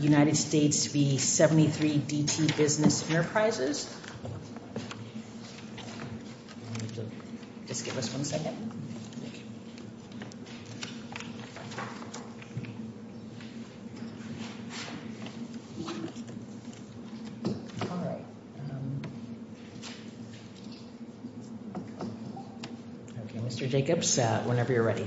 United States v. 73 DT Business Enterprises. Just give us one second. Mr. Jacobs, whenever you're ready.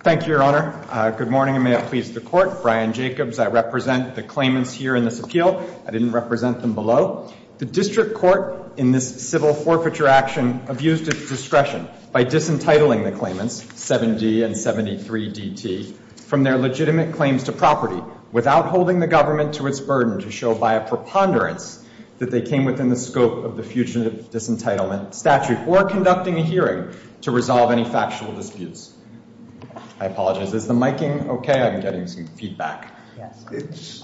Thank you, Your Honor. Good morning and may it please the Court. Brian Jacobs, I represent the claimants here in this appeal. I didn't represent them below. The District Court in this civil forfeiture action abused its discretion by disentitling the claimants, 7D and 73 DT, from their legitimate claims to property without holding the government to its burden to show by a preponderance that they came within the scope of the Fugitive Disentitlement Statute or conducting a hearing to resolve any factual disputes. I apologize. Is the micing okay? I'm getting some feedback. It's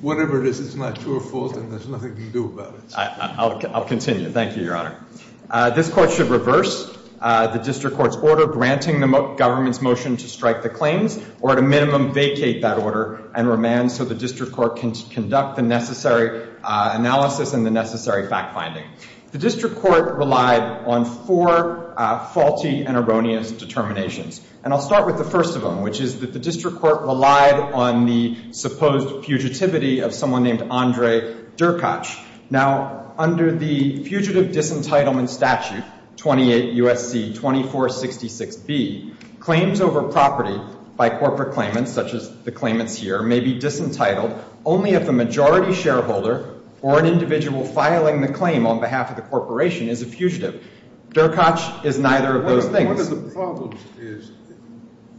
whatever it is. It's my true fault and there's nothing to do about it. I'll continue. Thank you, Your Honor. This Court should reverse the District Court's order granting the government's motion to strike the claims or at a minimum vacate that order and remand so the District Court can conduct the necessary analysis and the necessary fact-finding. The District Court relied on four faulty and erroneous determinations and I'll start with the first of them, which is that the District Court relied on the supposed fugitivity of someone named Andre Durkacz. Now, under the Fugitive Disentitlement Statute 28 U.S.C. 2466B, claims over property by corporate claimants, such as the claimants here, may be disentitled only if the majority shareholder or an individual filing the claim on behalf of the corporation is a fugitive. Durkacz is neither of those things. One of the problems is,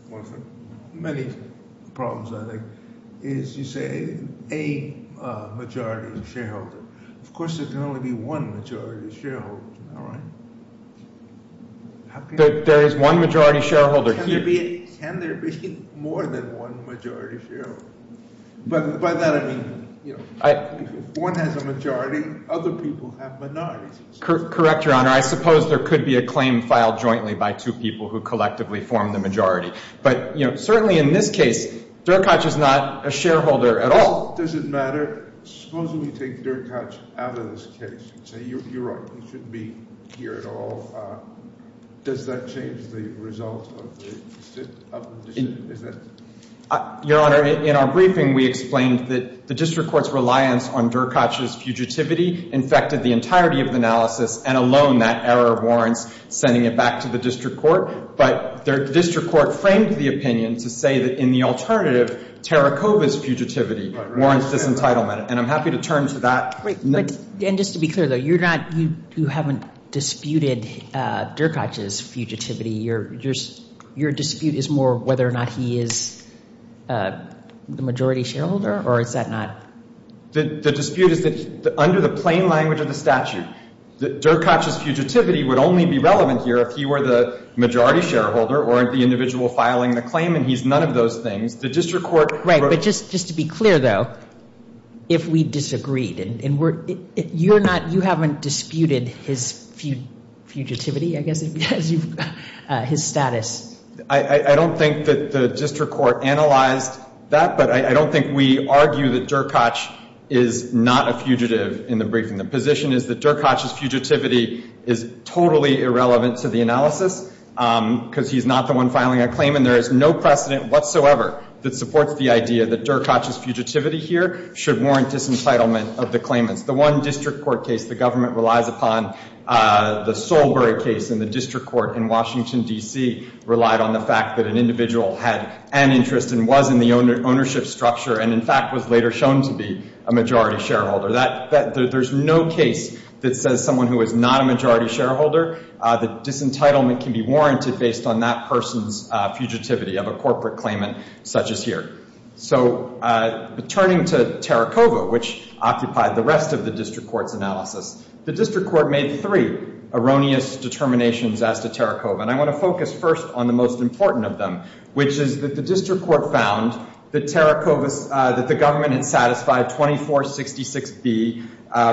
one of the many problems, I think, is you say a majority shareholder. Of course, there can only be one majority shareholder. All right. There is one majority shareholder. Can there be more than one majority shareholder? But by that, I mean, you know, if one has a majority, other people have minorities. Correct, Your Honor. I suppose there could be a claim filed jointly by two people who collectively form the majority. But, you know, certainly in this case, Durkacz is not a shareholder at all. Does it matter? Suppose we take Durkacz out of this case and say, you're right, he shouldn't be here at all. Does that change the result of the decision? Your Honor, in our briefing, we explained that the District Court's reliance on Durkacz's fugitivity infected the entirety of the analysis, and alone that error warrants sending it back to the District Court. But the District Court framed the opinion to say that in the alternative, Tarakova's fugitivity warrants disentitlement. And I'm happy to turn to that. Wait, and just to be clear, though, you're not, you haven't disputed Durkacz's fugitivity. Your dispute is more whether or not he is the majority shareholder, or is that not? The dispute is that under the plain language of the statute, Durkacz's fugitivity would only be relevant here if he were the majority shareholder or the individual filing the claim, and he's none of those things. The District Court... Right, but just to be clear, though, if we disagreed and we're, you're not, you haven't disputed his fugitivity, I guess, his status. I don't think that the District Court analyzed that, but I don't think we argue that Durkacz is not a fugitive in the briefing. The position is that Durkacz's fugitivity is totally irrelevant to the analysis because he's not the one filing a claim, and there is no precedent whatsoever that supports the idea that Durkacz's fugitivity here should warrant disentitlement of the claimants. The one District Court case the government relies upon, the Solberry case in the District Court in Washington, D.C., relied on the fact that an individual had an interest and was in the ownership structure and, in fact, was later shown to be a majority shareholder. That, that, there's no case that says someone who is not a majority shareholder, that disentitlement can be warranted based on that person's fugitivity of a corporate claimant such as here. So, turning to Tarakova, which occupied the rest of the District Court's analysis, the District Court made three erroneous determinations as to Tarakova. And I want to focus first on the most important of them, which is that the District Court found that Tarakova's, that the government had satisfied 2466B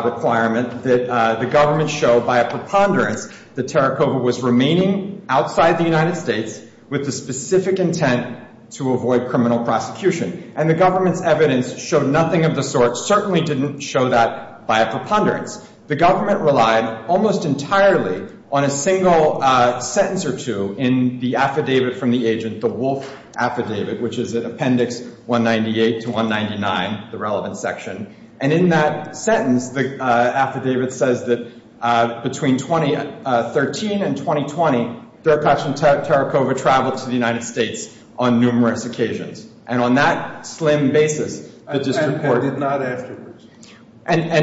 requirement, that the government showed by a preponderance that Tarakova was remaining outside the United States with the specific intent to avoid criminal prosecution. And the government's evidence showed nothing of the sort, certainly didn't show that by a preponderance. The government relied almost entirely on a single sentence or two in the affidavit from the agent, the Wolf affidavit, which is in Appendix 198 to 199, the relevant section. And in that sentence, the affidavit says that between 2013 and 2020, Derkoch and Tarakova traveled to the United States on numerous occasions. And on that slim basis, the District Court... And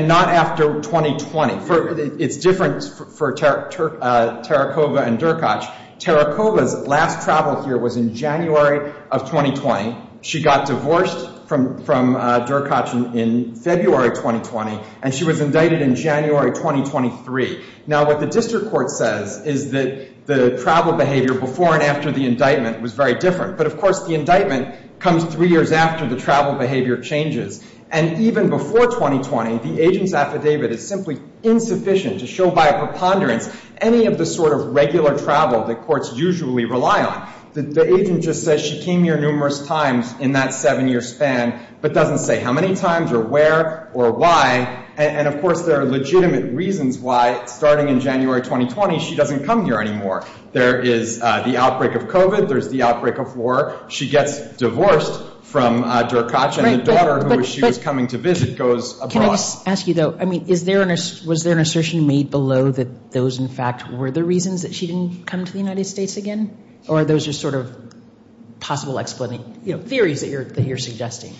not after 2020. It's different for Tarakova and Derkoch. Tarakova's last travel here was in January of 2020. She got divorced from Derkoch in February 2020, and she was indicted in January 2023. Now, what the District Court says is that the travel behavior before and after the indictment was very different. But of course, the indictment comes three years after the travel behavior changes. And even before 2020, the agent's affidavit is simply insufficient to show by a preponderance any of the sort of regular travel that courts usually rely on. The agent just says she came here numerous times in that seven-year span, but doesn't say how many times or where or why. And of course, there are legitimate reasons why, starting in January 2020, she doesn't come here anymore. There is the outbreak of COVID. There's the outbreak of war. She gets divorced from Derkoch, and the daughter who she was coming to visit goes abroad. Can I just ask you, though, I mean, was there an assertion made below that those, in fact, were the reasons that she didn't come to the United States again, or those are sort of possible theories that you're suggesting?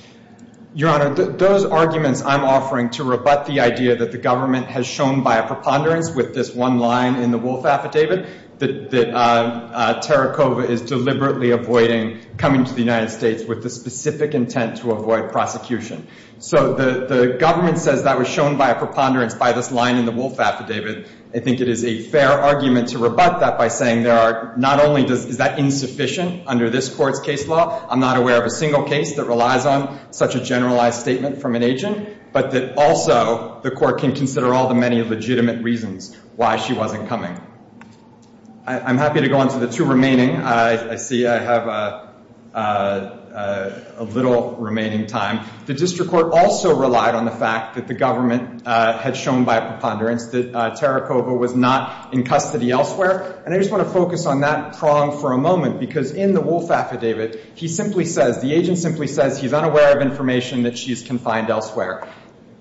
Your Honor, those arguments I'm offering to rebut the idea that the government has shown by a preponderance with this one line in the Wolf Affidavit, that Derkoch is deliberately avoiding coming to the United States with the specific intent to avoid prosecution. So the government says that was shown by a preponderance by this line in the Wolf Affidavit. I think it is a fair argument to rebut that by saying there are, not only is that insufficient under this Court's case law, I'm not aware of a single case that relies on such a generalized statement from an agent, but that also the Court can consider all the many legitimate reasons why she wasn't coming. I'm happy to go on to the two remaining. I see I have a little remaining time. The District Court also relied on the fact that the government had shown by a preponderance that Tarakova was not in custody elsewhere, and I just want to focus on that prong for a moment because in the Wolf Affidavit, he simply says, the agent simply says he's unaware of information that she's confined elsewhere.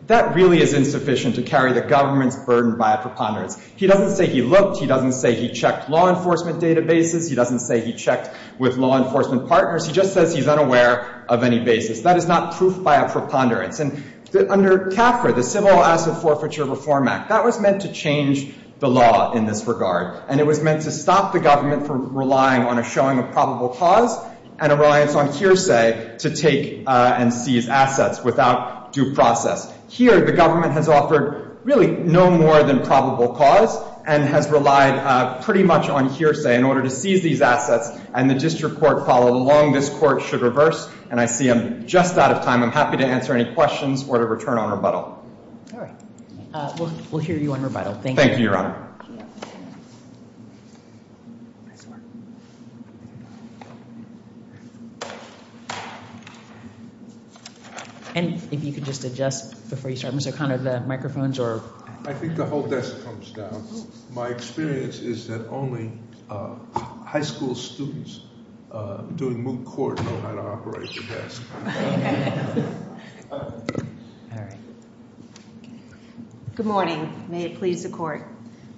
That really is insufficient to carry the government's burden by a preponderance. He doesn't say he looked, he doesn't say he checked law enforcement databases, he doesn't say he checked with law enforcement partners. He just says he's unaware of any basis. That is not proof by a preponderance. And under CAFRA, the Civil Asset Forfeiture Reform Act, that was meant to change the law in this regard, and it was meant to stop the government from relying on a showing of probable cause and a reliance on hearsay to take and seize assets without due process. Here, the government has offered really no more than probable cause and has relied pretty much on hearsay in order to seize these assets, and the District Court followed along. This Court should reverse, and I see I'm just out of time. I'm happy to answer any questions or to return on rebuttal. All right. We'll hear you on rebuttal. Thank you, Your Honor. And if you could just adjust before you start, Mr. O'Connor, the microphones or... I think the whole desk comes down. My experience is that only high school students doing moot court know how to operate the desk. Good morning. May it please the Court.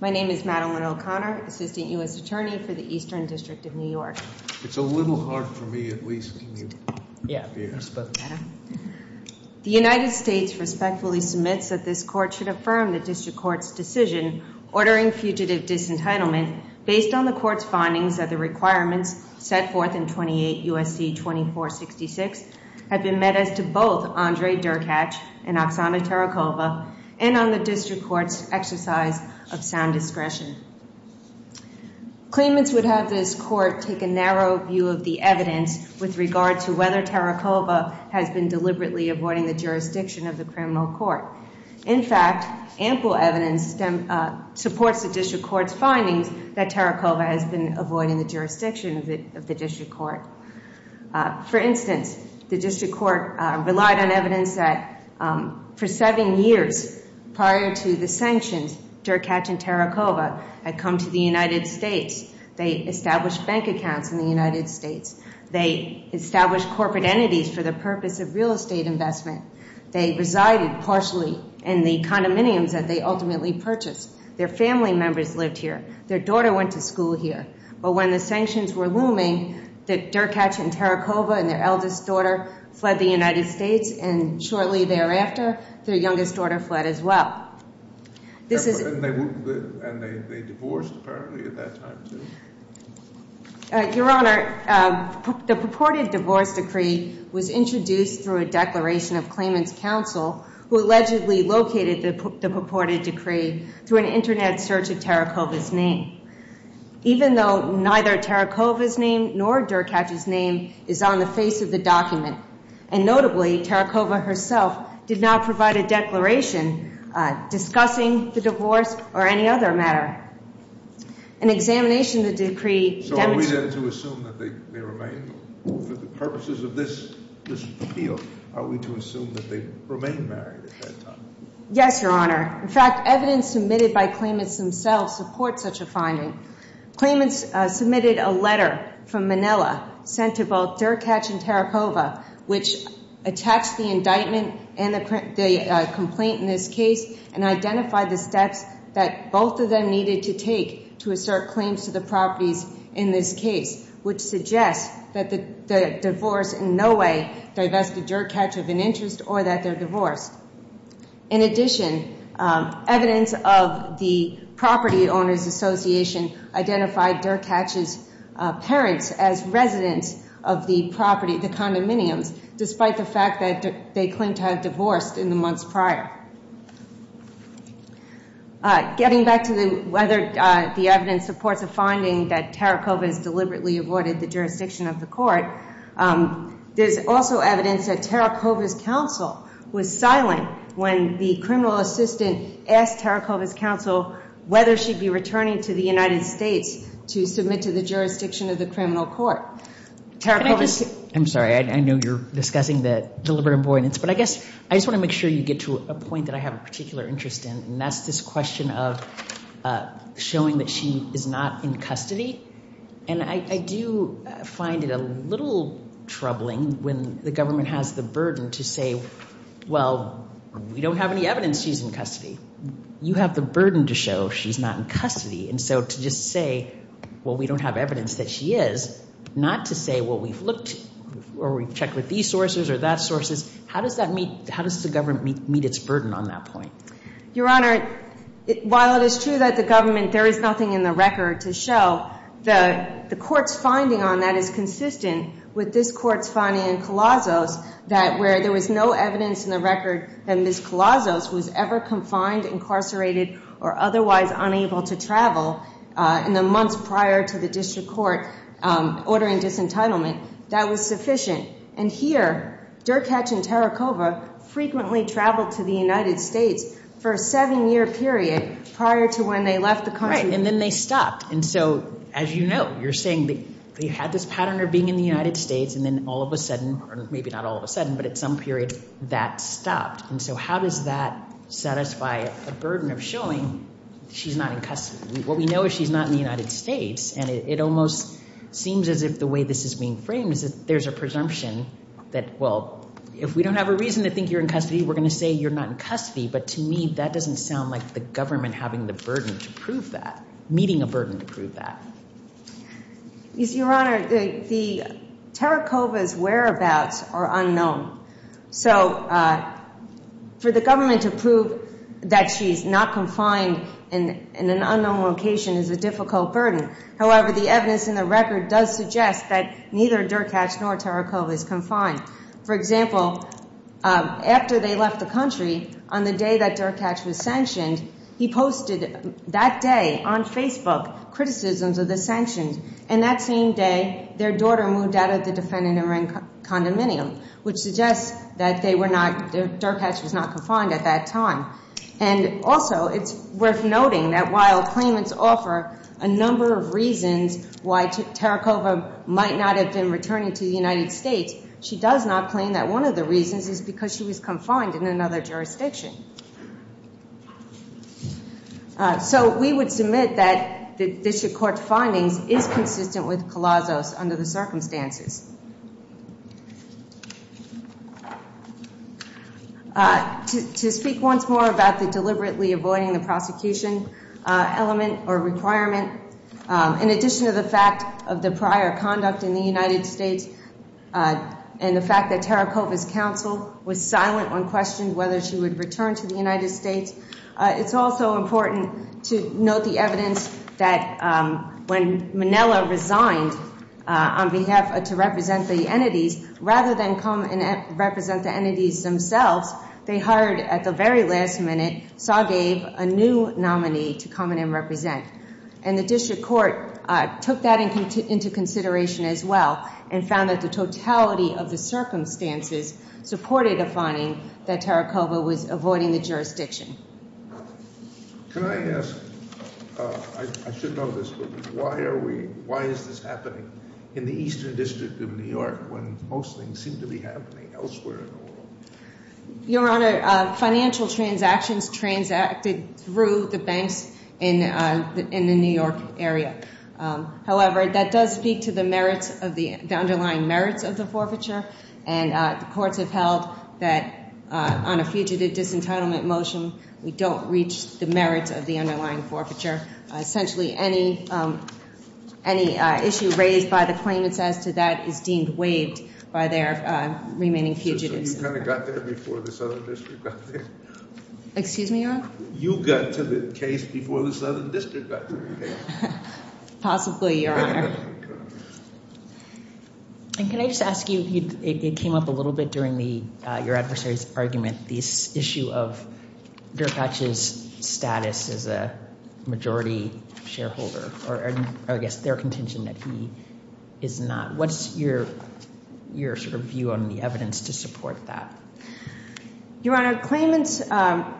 My name is Madeline O'Connor, Assistant U.S. Attorney for the Eastern District of New York. It's a little hard for me, at least. The United States respectfully submits that this Court should affirm the District Court's decision ordering fugitive disentitlement based on the Court's findings that the requirements set forth in 28 U.S.C. 2466 have been met as to both Andrei Derkach and Oksana Tarakova and on the District Court's exercise of sound discretion. Claimants would have this Court take a narrow view of the evidence with regard to whether Tarakova has been deliberately avoiding the jurisdiction of the criminal court. In fact, ample evidence supports the District Court's findings that Tarakova has been avoiding the jurisdiction of the District Court. For instance, the District Court relied on evidence that for seven years prior to the sanctions, Derkach and Tarakova had come to the United States. They established bank accounts in the United States. They established corporate entities for the purpose of real estate investment. They resided partially in the condominiums that they ultimately purchased. Their family members lived here. Their daughter went to school here. But when the sanctions were looming, Derkach and Tarakova and their eldest daughter fled the United States, and shortly thereafter, their youngest daughter fled as well. This is- And they divorced apparently at that time too? Your Honor, the purported divorce decree was introduced through a declaration of claimant's counsel who allegedly located the purported decree through an internet search of Tarakova's name. Even though neither Tarakova's name nor Derkach's name is on the face of the document, and notably, Tarakova herself did not provide a declaration discussing the divorce or any other matter. An examination of the decree- So are we then to assume that they remain, for the purposes of this appeal, are we to assume that they remain married at that time? Yes, Your Honor. In fact, evidence submitted by claimants themselves support such a finding. Claimants submitted a letter from Manila sent to both Derkach and Tarakova, which attached the indictment and the complaint in this case and identified the steps that both of them needed to take to assert claims to the properties in this case, which suggests that the divorce in no way divested Derkach of an interest or that they're divorced. In addition, evidence of the Property Owners Association identified Derkach's parents as residents of the property, the condominiums, despite the fact that they claimed to have divorced in the months prior. Getting back to whether the evidence supports a finding that Tarakova has deliberately avoided the jurisdiction of the court, there's also evidence that Tarakova's counsel was silent when the criminal assistant asked Tarakova's counsel whether she'd be returning to the United States to submit to the jurisdiction of the criminal court. I'm sorry. I know you're discussing the deliberate avoidance, but I guess I just want to make sure you get to a point that I have a particular interest in, and that's this question of showing that she is not in custody. And I do find it a little troubling when the government has the burden to say, well, we don't have any evidence she's in custody. You have the burden to show she's not in custody. And so to just say, well, we don't have evidence that she is, not to say, well, we've looked or we've checked with these sources or that sources. How does that meet? How does the government meet its burden on that point? Your Honor, while it is true that the government, there is nothing in the record to show, the court's finding on that is consistent with this court's finding in Colossos, that where there was no evidence in the record that Ms. Colossos was ever confined, incarcerated, or otherwise unable to travel in the months prior to the district court ordering disentitlement, that was sufficient. And here, Dirk Hetch and Tarakova frequently traveled to the United States for a seven-year period prior to when they left the country. Right. And then they stopped. And so, as you know, you're saying that they had this pattern of being in the United States and then all of a sudden, or maybe not all of a sudden, but at some period, that stopped. And so how does that satisfy a burden of showing she's not in custody? What we know is she's not in the United States. And it almost seems as if the way this is being framed is that there's a presumption that, well, if we don't have a reason to think you're in custody, we're going to say you're not in custody. But to me, that doesn't sound like the government having the burden to prove that, meeting a burden to prove that. Your Honor, the Tarakova's whereabouts are unknown. So for the government to prove that she's not confined in an unknown location is a difficult burden. However, the evidence in the record does suggest that neither Dirk Hetch nor Tarakova is confined. For example, after they left the country, on the day that Dirk Hetch was sanctioned, he posted that day on Facebook criticisms of the sanctions. And that same day, their daughter moved out of the defendant and ran condominium, which suggests that Dirk Hetch was not confined at that time. And also it's worth noting that while claimants offer a number of reasons why Tarakova might not have been returning to the United States, she does not claim that one of the reasons is because she was confined in another jurisdiction. So we would submit that the District Court findings is consistent with Colossos under the circumstances. To speak once more about the deliberately avoiding the prosecution element or requirement, in addition to the fact of the prior conduct in the United States and the fact that Tarakova's counsel was silent when questioned whether she would return to the United States. It's also important to note the evidence that when Manila resigned on behalf to represent the entities, rather than come and represent the entities themselves, they hired at the very last minute, Saw gave a new nominee to come in and represent. And the District Court took that into consideration as well and found that the totality of the circumstances supported a finding that Tarakova was avoiding the jurisdiction. Can I ask, I should know this, but why are we, why is this happening in the Eastern District of New York when most things seem to be happening elsewhere? Your Honor, financial transactions transacted through the banks in the New York area. However, that does speak to the merits of the underlying merits of the forfeiture, and the courts have held that on a fugitive disentitlement motion, we don't reach the merits of the underlying forfeiture. Essentially, any issue raised by the claimants as to that is deemed waived by their remaining fugitives. So you kind of got there before the Southern District got there? Excuse me, Your Honor? You got to the case before the Southern District got to the case. Possibly, Your Honor. And can I just ask you, it came up a little bit during your adversary's argument, this issue of Dyrkach's status as a majority shareholder, or I guess their contention that he is not. What's your sort of view on the evidence to support that? Your Honor, claimants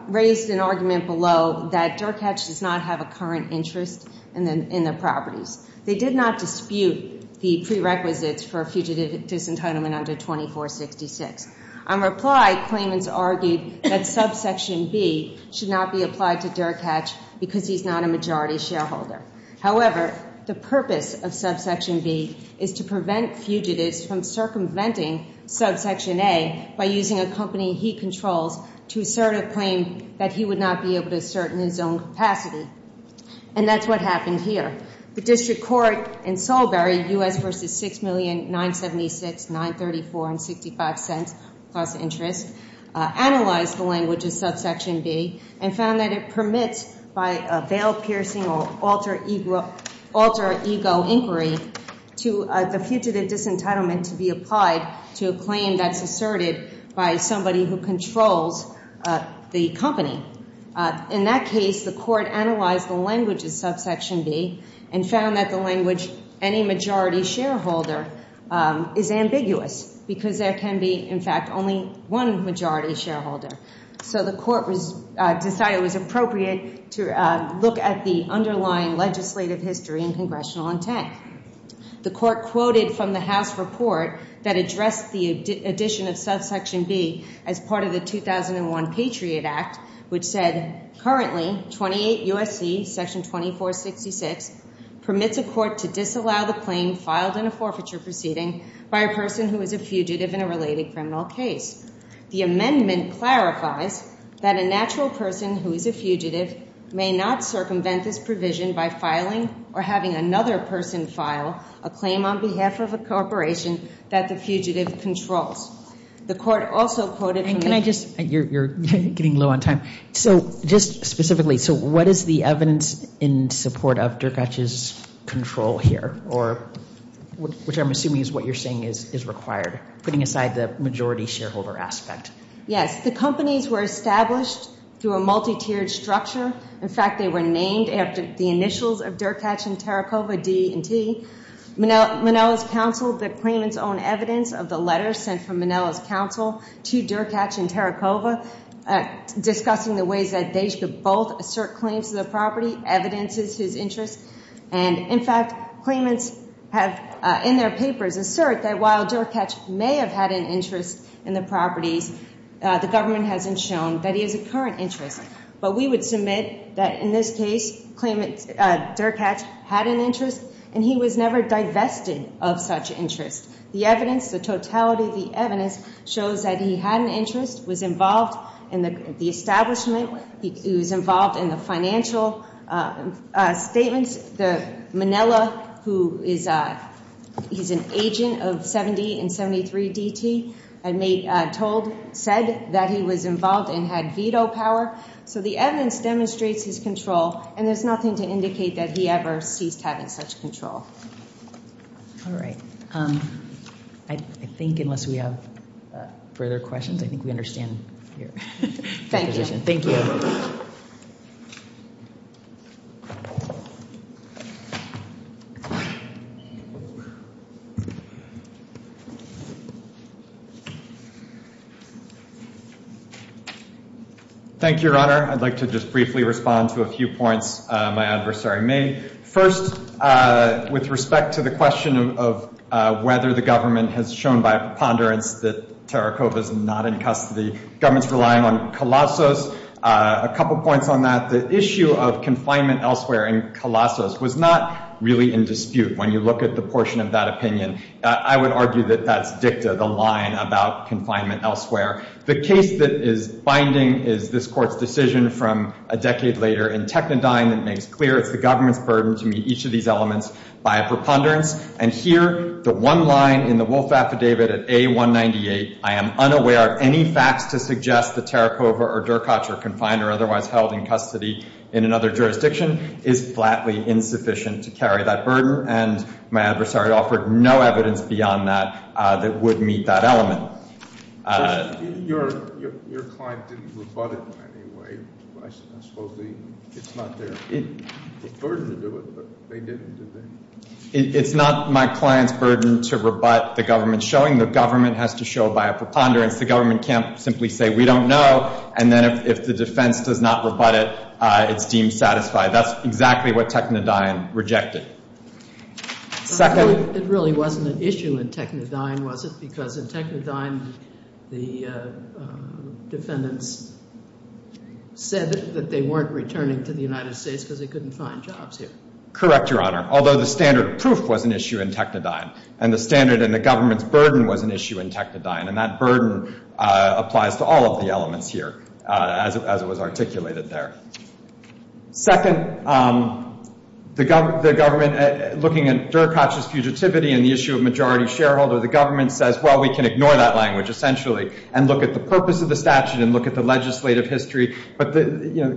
raised an argument below that Dyrkach does not have a current interest in their properties. They did not dispute the prerequisites for a fugitive disentitlement under 2466. On reply, claimants argued that subsection B should not be applied to Dyrkach because he's not a majority shareholder. However, the purpose of subsection B is to prevent fugitives from circumventing subsection A by using a company he controls to assert a claim that he would not be able to assert in his own capacity. And that's what happened here. The District Court in Solberry, U.S. versus $6,976,934.65 plus interest, analyzed the language of subsection B and found that it permits by a veil-piercing or alter ego inquiry to the fugitive disentitlement to be applied to a claim that's asserted by somebody who controls the company. In that case, the court analyzed the language of subsection B and found that the language, any majority shareholder is ambiguous because there can be, in fact, only one majority shareholder. So the court was decided it was appropriate to look at the underlying legislative history and congressional intent. The court quoted from the House report that addressed the addition of subsection B as part of the 2001 Patriot Act, which said, currently 28 U.S.C. section 2466 permits a court to disallow the claim filed in a forfeiture proceeding by a person who is a fugitive in a related criminal case. The amendment clarifies that a natural person who is a fugitive may not circumvent this provision by filing or having another person file a claim on behalf of a corporation that the fugitive controls. The court also quoted from the- And can I just, you're getting low on time. So just specifically, so what is the evidence in support of Derkache's control here, or which I'm assuming is what you're saying is required, putting aside the majority shareholder aspect? Yes, the companies were established through a multi-tiered structure. In fact, they were named after the initials of Derkache and Tarakova, D and T. Manela's counsel, the claimant's own evidence of the letter sent from Manela's counsel to Derkache and Tarakova discussing the ways that they should both assert claims to the property, evidences his interest. And in fact, claimants have in their papers assert that while Derkache may have had an interest in the properties, the government hasn't shown that he has a current interest. But we would submit that in this case, claimant Derkache had an interest and he was never divested of such interest. The evidence, the totality of the evidence shows that he had an interest, was involved in the establishment, he was involved in the financial statements. Manela, who is an agent of 70 and 73 DT, had made, told, said that he was involved and had veto power. So the evidence demonstrates his control and there's nothing to indicate that he ever ceased having such control. All right. I think unless we have further questions, I think we understand your position. Thank you. Thank you, Your Honor. I'd like to just briefly respond to a few points my adversary made. First, with respect to the question of whether the government has shown by preponderance that Tarakova is not in custody, government's relying on Colossos. A couple points on that. The issue of confinement elsewhere in Colossos was not really in dispute when you look at the portion of that opinion. I would argue that that's dicta, the line about confinement elsewhere. The case that is binding is this court's decision from a decade later in Technodyne that makes clear it's the government's burden to meet each of these elements by a preponderance. And here, the one line in the Wolf Affidavit at A198, I am unaware of any facts to suggest that Tarakova or Dercotch are confined or otherwise held in custody in another jurisdiction, is flatly insufficient to carry that burden. And my adversary offered no evidence beyond that that would meet that element. Your client didn't rebut it in any way. I suppose it's not there. It's a burden to do it, but they didn't, did they? It's not my client's burden to rebut the government's showing. The government has to show by a preponderance. The government can't simply say, we don't know. And then if the defense does not rebut it, it's deemed satisfied. That's exactly what Technodyne rejected. It really wasn't an issue in Technodyne, was it? Because in Technodyne, the defendants said that they weren't returning to the United States because they couldn't find jobs here. Correct, Your Honor. Although the standard of proof was an issue in Technodyne and the standard in the government's burden was an issue in Technodyne. And that burden applies to all of the elements here as it was articulated there. Second, the government, looking at Dercotch's fugitivity and the issue of majority shareholder, the government says, well, we can ignore that language essentially and look at the purpose of the statute and look at the legislative history. But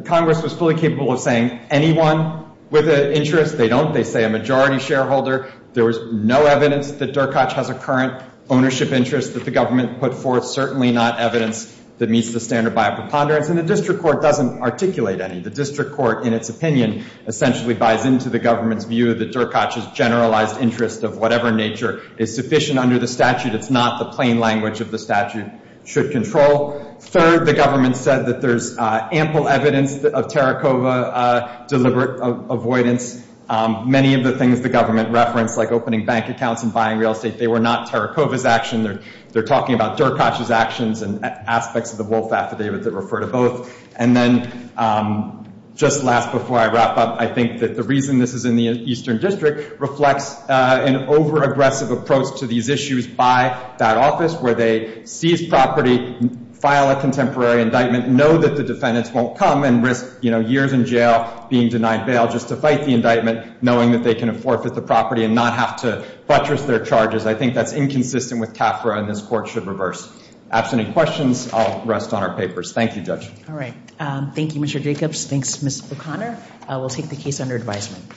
Congress was fully capable of saying, anyone with an interest, they don't. They say a majority shareholder. There was no evidence that Dercotch has a current ownership interest that the government put forth. Certainly not evidence that meets the standard by a preponderance. And the district court doesn't articulate any. The district court, in its opinion, essentially buys into the government's view that Dercotch's generalized interest of whatever nature is sufficient under the statute. It's not the plain language of the statute should control. Third, the government said that there's ample evidence of Terracova deliberate avoidance. Many of the things the government referenced, like opening bank accounts and buying real estate, they were not Terracova's action. They're talking about Dercotch's actions and aspects of the Wolf Affidavit that refer to both. And then, just last before I wrap up, I think that the reason this is in the Eastern District reflects an overaggressive approach to these issues by that office where they seize property, file a contemporary indictment, know that the defendants won't come and risk, you know, years in jail, being denied bail just to fight the indictment, knowing that they can forfeit the property and not have to buttress their charges. I think that's inconsistent with CAFRA and this court should reverse. Absent any questions, I'll rest on our papers. Thank you, Judge. All right. Thank you, Mr. Jacobs. Thanks, Ms. O'Connor. We'll take the case under advisement.